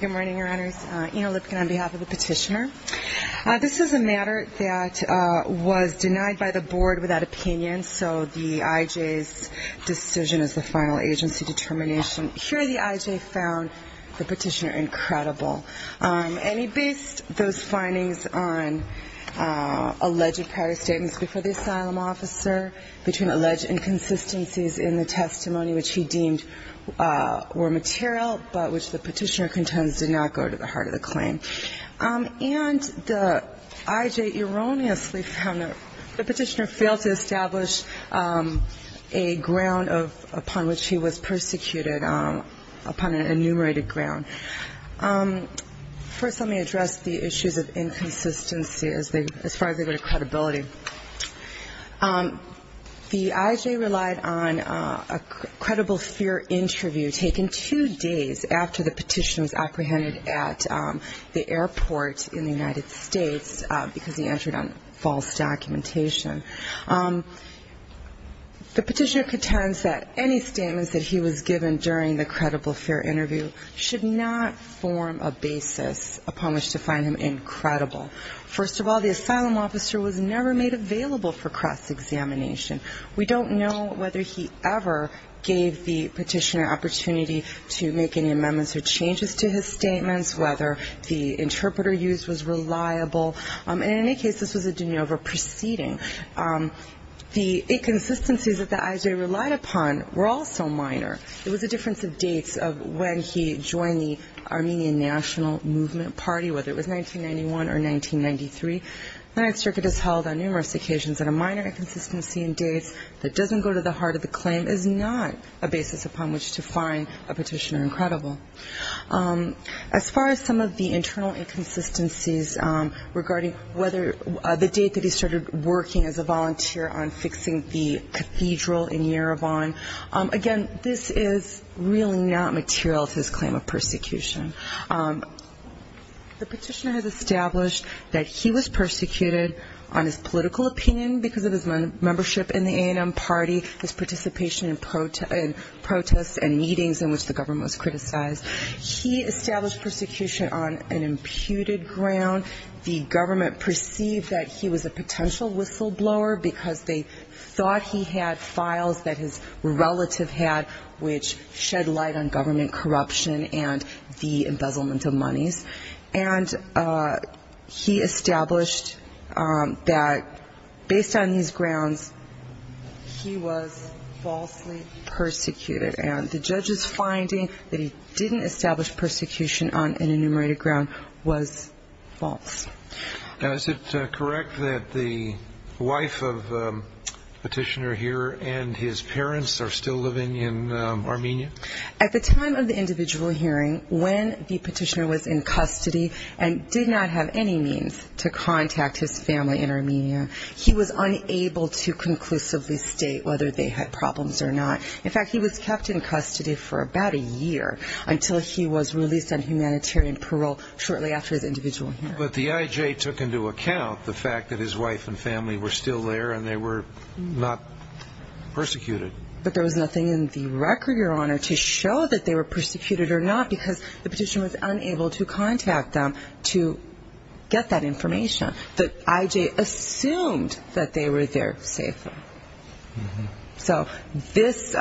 Good morning, your honors. Ina Lipkin on behalf of the petitioner. This is a matter that was denied by the Board without opinion, so the IJ's decision is the final agency determination. Here the IJ found the petitioner incredible. And he based those findings on alleged prior statements before the asylum officer, between alleged inconsistencies in the testimony which he deemed were material, but which the petitioner contends did not go to the heart of the claim. And the IJ erroneously found that the petitioner failed to establish a ground upon which he was persecuted, upon an enumerated ground. First let me address the issues of inconsistency as far as they go to credibility. The IJ relied on a credible fear interview taken two days after the petitioner was apprehended at the airport in the United States because he entered on false documentation. The petitioner contends that any statements that he was given during the credible fear interview should not form a basis upon which to find him incredible. First of all, the asylum officer was never made available for cross-examination. We don't know whether he ever gave the petitioner an opportunity to make any amendments or changes to his statements, whether the interpreter used was reliable. In any case, this was a de novo proceeding. The inconsistencies that the IJ relied upon were also minor. It was a difference of dates of when he joined the Armenian National Movement Party, whether it was 1991 or 1993. When I say inconsistencies, I mean the fact that the Armenian National Movement has held on numerous occasions a minor inconsistency and dates that doesn't go to the heart of the claim is not a basis upon which to find a petitioner incredible. As far as some of the internal inconsistencies regarding the date that he started working as a volunteer on fixing the cathedral in Yerevan, again, this is really not material to his claim of persecution. The petitioner has been impeached on his political opinion because of his membership in the A&M party, his participation in protests and meetings in which the government was criticized. He established persecution on an imputed ground. The government perceived that he was a potential whistleblower because they thought he had files that his relative had which shed light on government corruption and the embezzlement of monies. And he established that based on these grounds, he was falsely persecuted. And the judge's finding that he didn't establish persecution on an enumerated ground was false. And is it correct that the wife of the petitioner here and his parents are still living in Armenia? At the time of the individual hearing, when the petitioner was in custody and did not have any means to contact his family in Armenia, he was unable to conclusively state whether they had problems or not. In fact, he was kept in custody for about a year until he was released on humanitarian parole shortly after the individual hearing. But the IJ took into account the fact that his wife and family were still there and they were not persecuted. But there was nothing in the record, Your Honor, to show that they were persecuted or not because the petitioner was unable to contact them to get that information. The IJ assumed that they were there safely. So this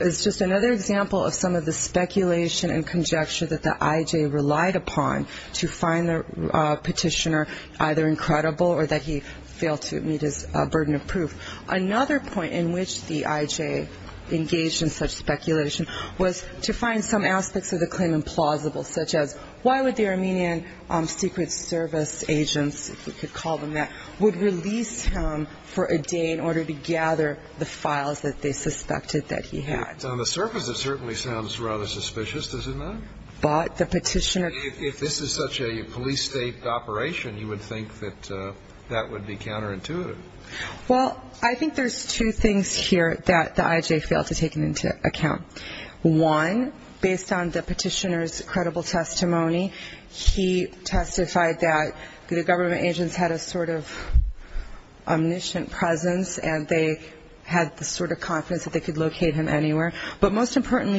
is just another example of some of the speculation and conjecture that the IJ relied upon to find the petitioner either incredible or that he And the reason that the IJ engaged in such speculation was to find some aspects of the claim implausible, such as why would the Armenian Secret Service agents, if you could call them that, would release him for a day in order to gather the files that they suspected that he had? On the surface, it certainly sounds rather suspicious, doesn't it? But the petitioner... But if this is such a police state operation, you would think that that would be counterintuitive. Well, I think there's two things here that the IJ failed to take into account. One, based on the petitioner's credible testimony, he testified that the government agents had a sort of omniscient presence and they had the sort of confidence that they could locate him anywhere. And the other thing is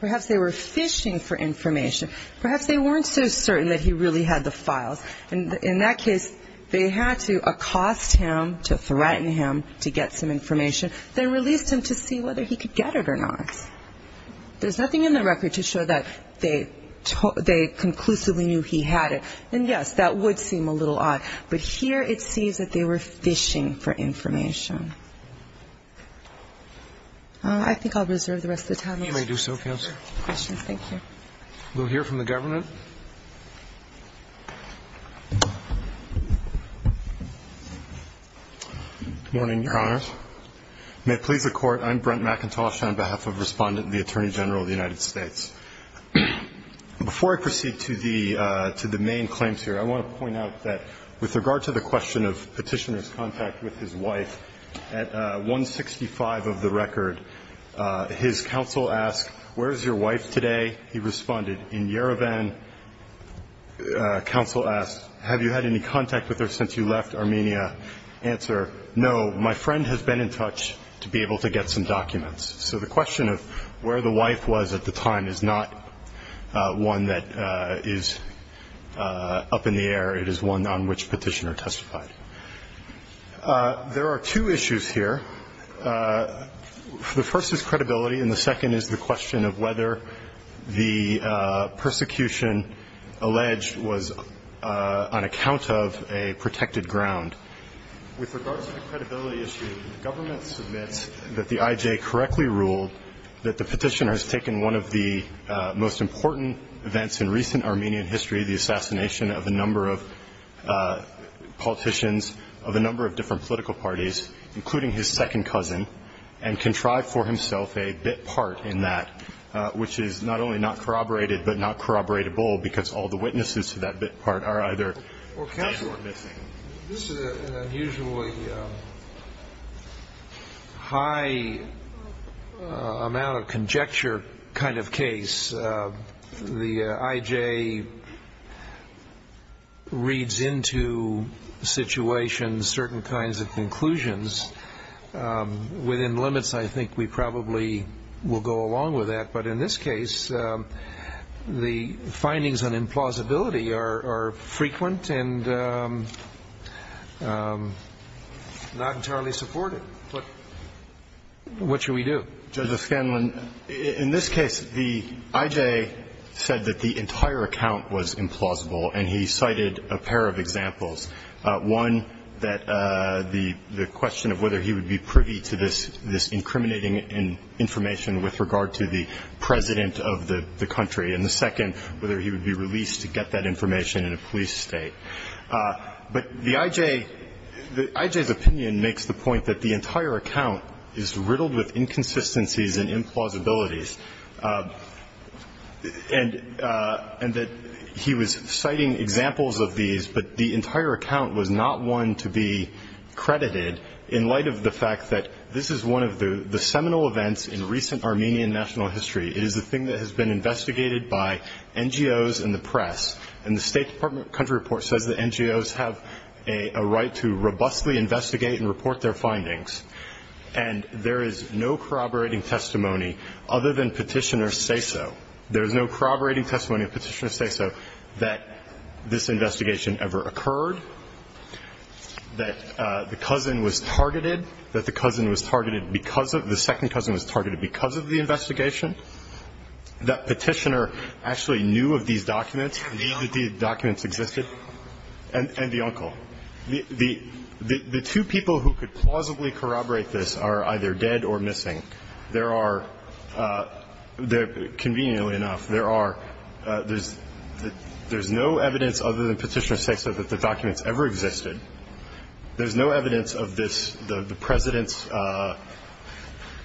that the IJ was fishing for information. Perhaps they weren't so certain that he really had the files. And in that case, they had to accost him, to threaten him to get some information, then released him to see whether he could get it or not. There's nothing in the record to show that they conclusively knew he had it. And yes, that would seem a little odd. But here it seems that they were fishing for information. I think I'll reserve the rest of the time. You may do so, Counsel. We'll hear from the government. Good morning, Your Honors. May it please the Court, I'm Brent McIntosh, on behalf of Respondent and the Attorney General of the United States. Before I proceed to the main claims here, I want to point out that with regard to the question of petitioner's contact with his wife, at 165 of the record, his counsel asked, Where is your wife today? He responded, In Yerevan. Counsel asked, Have you had any contact with her since you left Armenia? Answer, No, my friend has been in touch to be able to get some documents. So the question of where the wife was at the time is not one that is up in the air, it is one on which petitioner testified. There are two issues here. The first is credibility, and the second is the question of whether the persecution alleged was on account of a protected ground. With regard to the credibility issue, the government submits that the IJ correctly ruled that the petitioner has taken one of the most important events in recent Armenian history, the assassination of a number of politicians of a number of different political parties, including his second cousin, and contrived for himself a bit part in that, which is not only not corroborated, but not corroboratable, because all the witnesses to that bit part are either dead or missing. Well, counsel, this is an unusually high amount of conjecture kind of case. The IJ, the IJ, the IJ, the IJ, the IJ, the IJ, the IJ, the IJ, the IJ, the IJ, the IJ, and the IJ, the IJ, the IJ, the IJ, the IJ, the IJ, the IJ, the IJ, the IJ, and the IJ, the IJ, the IJ, the IJ, the IJ, the IJ, the IJ, the IJ reads into situations, certain kinds of conclusions, within limits I think we probably will go along with that, but in this case, the findings on implausibility are frequent and not entirely supported. What, what should we do? Judge O'Scanlan, in this case, the IJ said that the entire account was implausible, and he cited a pair of examples. One, that the question of whether he would be privy to this incriminating information with regard to the president of the country, and the second, whether he would be released to get that information in a police state. But the IJ, the IJ's opinion makes the point that the entire account is riddled with inconsistencies and implausibilities, and that he was citing examples of these, but the entire account was not one to be credited in light of the fact that this is one of the seminal events in recent Armenian national history. It is a thing that has been investigated by NGOs and the press, and the State Department of Country Report says that NGOs have a right to robustly investigate and report their findings, and there is no corroborating testimony other than petitioners say so. There is no corroborating testimony of petitioners say so that this investigation ever occurred, that the cousin was targeted, that the cousin was targeted because of the second cousin was targeted because of the investigation, that petitioner actually knew of these documents, knew that these documents existed, and the uncle. The two people who could plausibly corroborate this are either dead or missing. There are, conveniently enough, there are, there's no evidence other than petitioners say so that the documents ever existed. There's no evidence of this, the President's,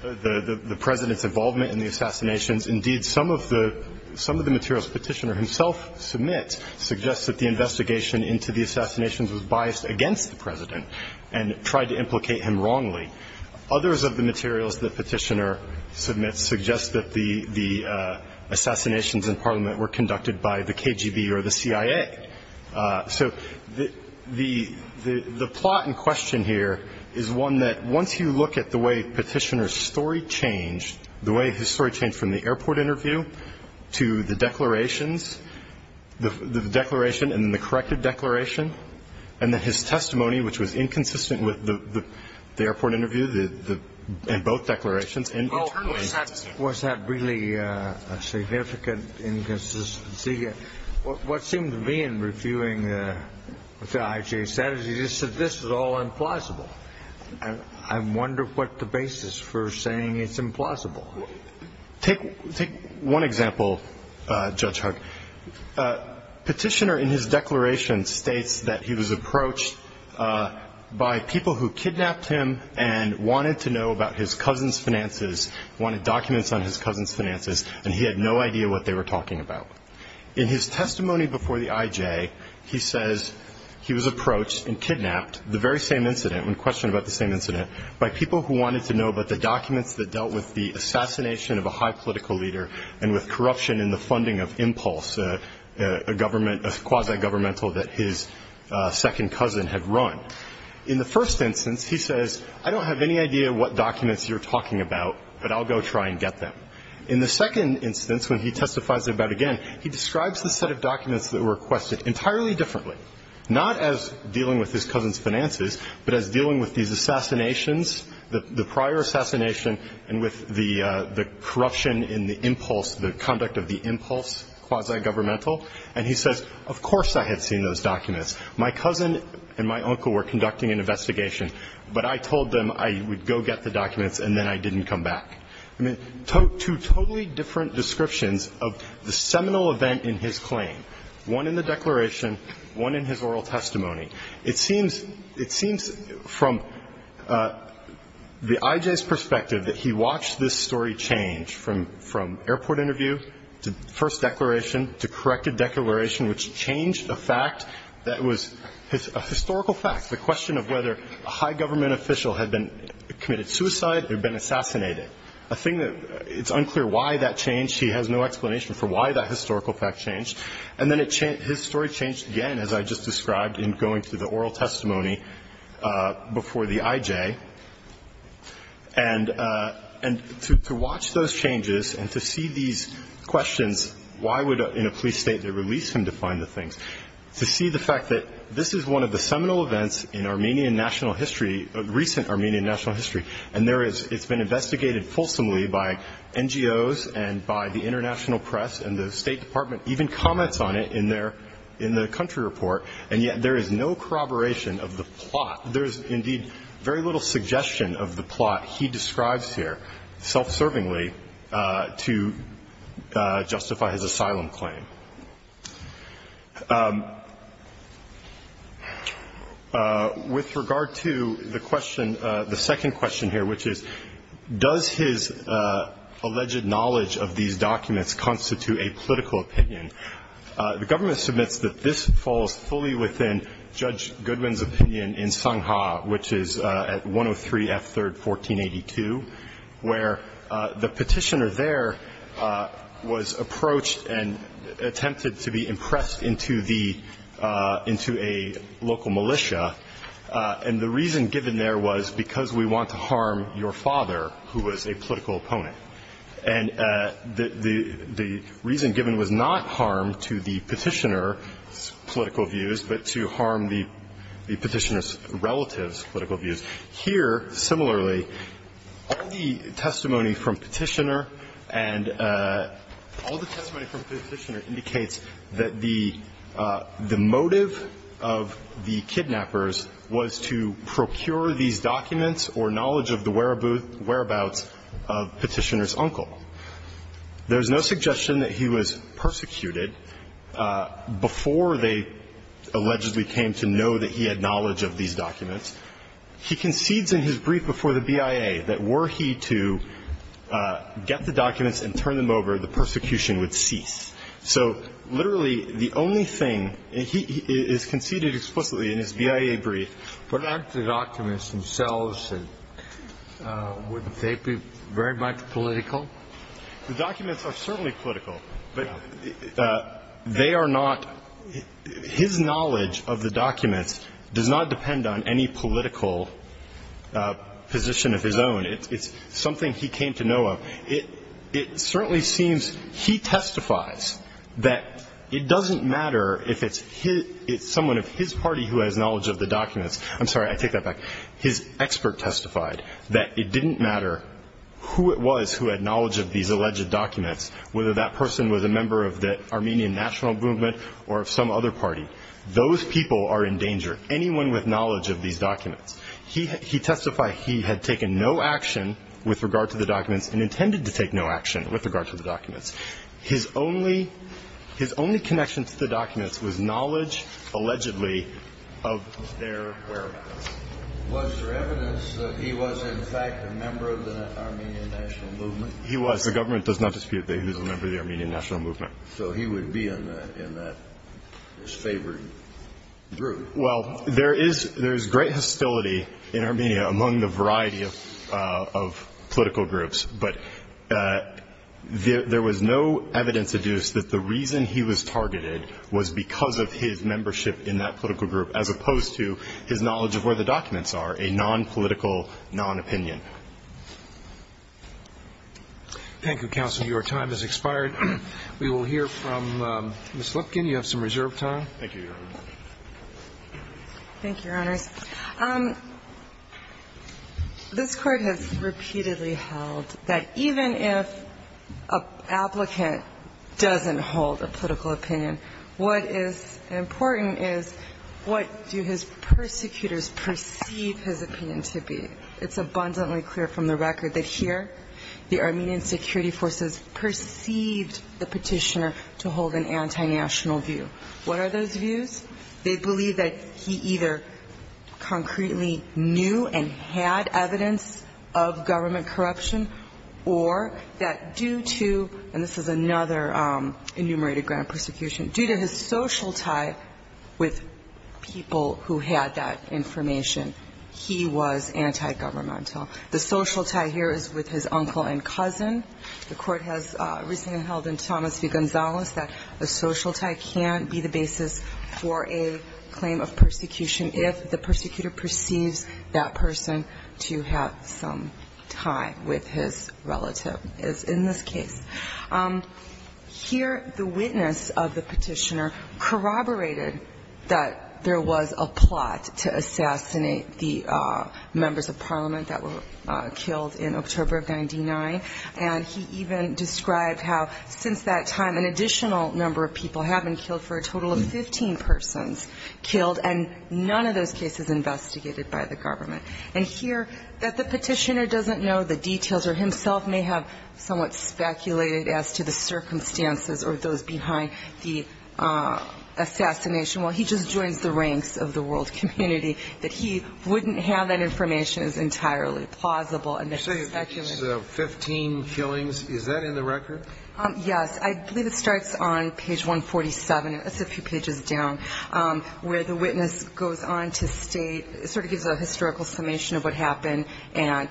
the President's involvement in the assassinations. Indeed, some of the, some of the materials petitioner himself submits suggest that the investigation into the assassinations was biased against the President and tried to implicate him wrongly. Others of the materials that petitioner submits suggest that the, the assassinations in Parliament were conducted by the KGB or the CIA. So the, the plot in question here is one that, once you look at the way petitioner's story changed, the way his story changed from the airport interview to the declarations, the declaration and the corrected declaration, and then his testimony, which was inconsistent with the airport interview, the, and both declarations. Was that really a significant inconsistency? What, what seemed to me in reviewing what the IJ said is he just said this is all implausible. And I wonder what the basis for saying it's implausible. Take, take one example, Judge Hugg. Petitioner in his declaration states that he was approached by people who kidnapped him and wanted to know about his cousin's finances, wanted documents on his cousin's finances, and he had no idea what they were talking about. In his testimony before the IJ, he says he was approached and kidnapped, the very same incident, one question about the same incident, by people who wanted to know about the documents that dealt with the assassination of a high political leader and with corruption in the funding of Impulse, a government, a quasi-governmental that his second cousin had run. Now, in the first instance, he says, I don't have any idea what documents you're talking about, but I'll go try and get them. In the second instance, when he testifies about it again, he describes the set of documents that were requested entirely differently, not as dealing with his cousin's finances, but as dealing with these assassinations, the prior assassination, and with the, the corruption in the Impulse, the conduct of the Impulse quasi-governmental. And he says, of course I had seen those documents. My cousin and my uncle were conducting an investigation, but I told them I would go get the documents, and then I didn't come back. I mean, two totally different descriptions of the seminal event in his claim, one in the declaration, one in his oral testimony. It seems, it seems from the IJ's perspective that he watched this story change from, from airport interview, to first declaration, to corrected declaration, which changed a fact that was a historical fact. The question of whether a high-government official had been, committed suicide or been assassinated. A thing that, it's unclear why that changed. He has no explanation for why that historical fact changed. And then it, his story changed again, as I just described, in going to the oral testimony before the IJ. And, and to, to watch those changes and to see these questions, why would, in a police state, they release him to find the things. To see the fact that this is one of the seminal events in Armenian national history, recent Armenian national history. And there is, it's been investigated fulsomely by NGOs and by the international press, and the State Department even comments on it in their, in the country report, and yet there is no corroboration of the plot. There is indeed very little suggestion of the plot he describes here, self-servingly, to justify his asylum claim. With regard to the question, the second question here, which is, does his alleged knowledge of these documents constitute a political opinion? The government submits that this falls fully within Judge Goodwin's opinion in Sungha, which is at 103 F. 3rd, 1482, where the petitioner there was approached and attempted to be impressed into the, into a local militia. And the reason given there was because we want to harm your father, who was a political opponent. And the reason given was not harm to the petitioner's political views, but to harm the petitioner's relative's political views. Here, similarly, all the testimony from Petitioner, and all the testimony from Petitioner indicates that the motive of the kidnappers was to procure these documents or knowledge of the whereabouts of Petitioner. Now, if you look at Petitioner's uncle, there is no suggestion that he was persecuted before they allegedly came to know that he had knowledge of these documents. He concedes in his brief before the BIA that were he to get the documents and turn them over, the persecution would cease. So literally, the only thing, and he is conceded explicitly in his BIA brief. But aren't the documents themselves, wouldn't they be very much political? The documents are certainly political, but they are not, his knowledge of the documents does not depend on any political position of his own. It's something he came to know of. It certainly seems he testifies that it doesn't matter if it's someone of his party who has knowledge of the documents. I'm sorry, I take that back. His expert testified that it didn't matter who it was who had knowledge of these alleged documents, whether that person was a member of the Armenian National Movement or of some other party. Those people are in danger. It doesn't matter anyone with knowledge of these documents. He testified he had taken no action with regard to the documents and intended to take no action with regard to the documents. His only connection to the documents was knowledge, allegedly, of their whereabouts. Was there evidence that he was in fact a member of the Armenian National Movement? He was. As a government, it does not dispute that he was a member of the Armenian National Movement. Well, there is great hostility in Armenia among the variety of political groups, but there was no evidence that the reason he was targeted was because of his membership in that political group, as opposed to his knowledge of where the documents are, a non-political, non-opinion. Thank you, counsel. Your time has expired. We will hear from Ms. Lipkin. You have some reserved time. Thank you, Your Honor. Thank you, Your Honors. This Court has repeatedly held that even if an applicant doesn't hold a political opinion, what is important is what do his persecutors perceive his opinion to be. It's abundantly clear from the record that here the Armenian security forces perceived the petitioner to hold an anti-national view. What are those views? They believe that he either concretely knew and had evidence of government corruption, or that due to, and this is another enumerated ground persecution, due to his social tie with people who had that information, he was anti-national. The social tie here is with his uncle and cousin. The Court has recently held in Thomas v. Gonzales that a social tie can be the basis for a claim of persecution if the persecutor perceives that person to have some tie with his relative, as in this case. Here the witness of the petitioner corroborated that there was a plot to assassinate the members of parliament, that were killed in October of 99, and he even described how since that time an additional number of people have been killed, for a total of 15 persons killed, and none of those cases investigated by the government. And here that the petitioner doesn't know the details, or himself may have somewhat speculated as to the circumstances or those behind the assassination, well, he just joins the ranks of the world community, that he wouldn't have that information is entirely plausible, and it's speculative. I'm sorry, 15 killings, is that in the record? Yes, I believe it starts on page 147, that's a few pages down, where the witness goes on to state, sort of gives a historical summation of what happened, and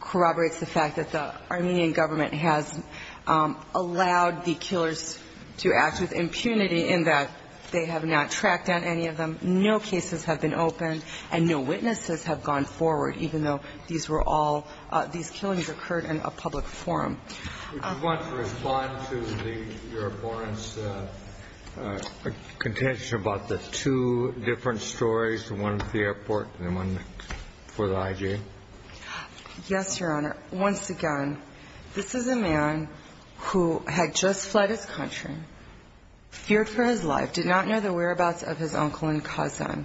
corroborates the fact that the Armenian government has allowed the killers to act with impunity in that they have not tracked down any of them, no cases have been opened, and no witnesses have gone forward, even though these were all, these killings occurred in a public forum. Would you want to respond to the Your Honor's contention about the two different stories, the one at the airport and the one for the IG? Yes, Your Honor. Once again, this is a man who had just fled his country, feared for his life, did not know the whereabouts of his uncle and cousin,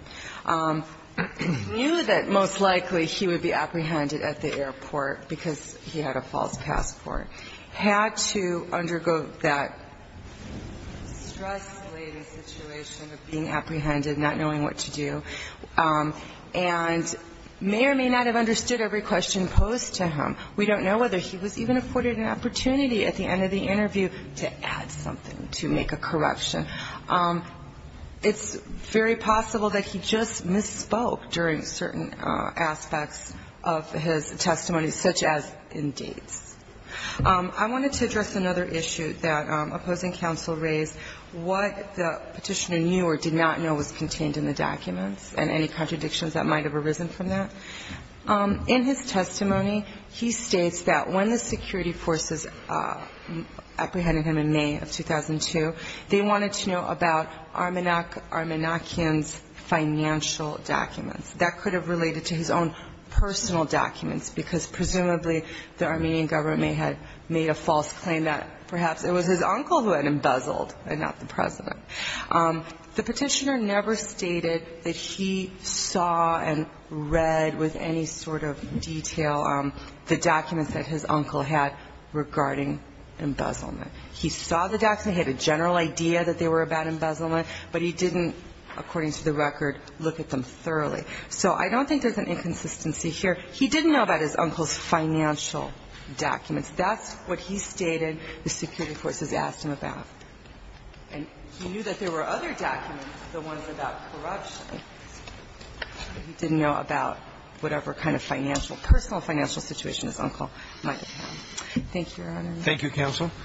knew that most likely he would be apprehended at the airport because he had a false passport, had to undergo that stress-laden situation of being apprehended, not knowing what to do, and may or may not have understood every question posed to him. We don't know whether he was even afforded an opportunity at the end of the interview to add something, to make a corruption. It's very possible that he just misspoke during certain aspects of his testimony, such as in dates. I wanted to address another issue that opposing counsel raised, what the Petitioner knew or did not know was contained in the documents and any contradictions that might have arisen from that. In his testimony, he states that when the security forces apprehended him in May of 2002, they wanted to make sure that he was in a state of emergency, and that he was in a state of emergency. He did not know about Armenakian's financial documents. That could have related to his own personal documents, because presumably the Armenian government may have made a false claim that perhaps it was his uncle who had embezzled and not the President. The Petitioner never stated that he saw and read with any sort of detail the documents that his uncle had regarding embezzlement. He saw the documents, he had a general idea that they were about embezzlement, but he didn't, according to the record, look at them thoroughly. So I don't think there's an inconsistency here. He didn't know about his uncle's financial documents. That's what he stated the security forces asked him about. And he knew that there were other documents, the ones about corruption. He didn't know about whatever kind of financial, personal financial situation his uncle might have had. Thank you, Your Honor.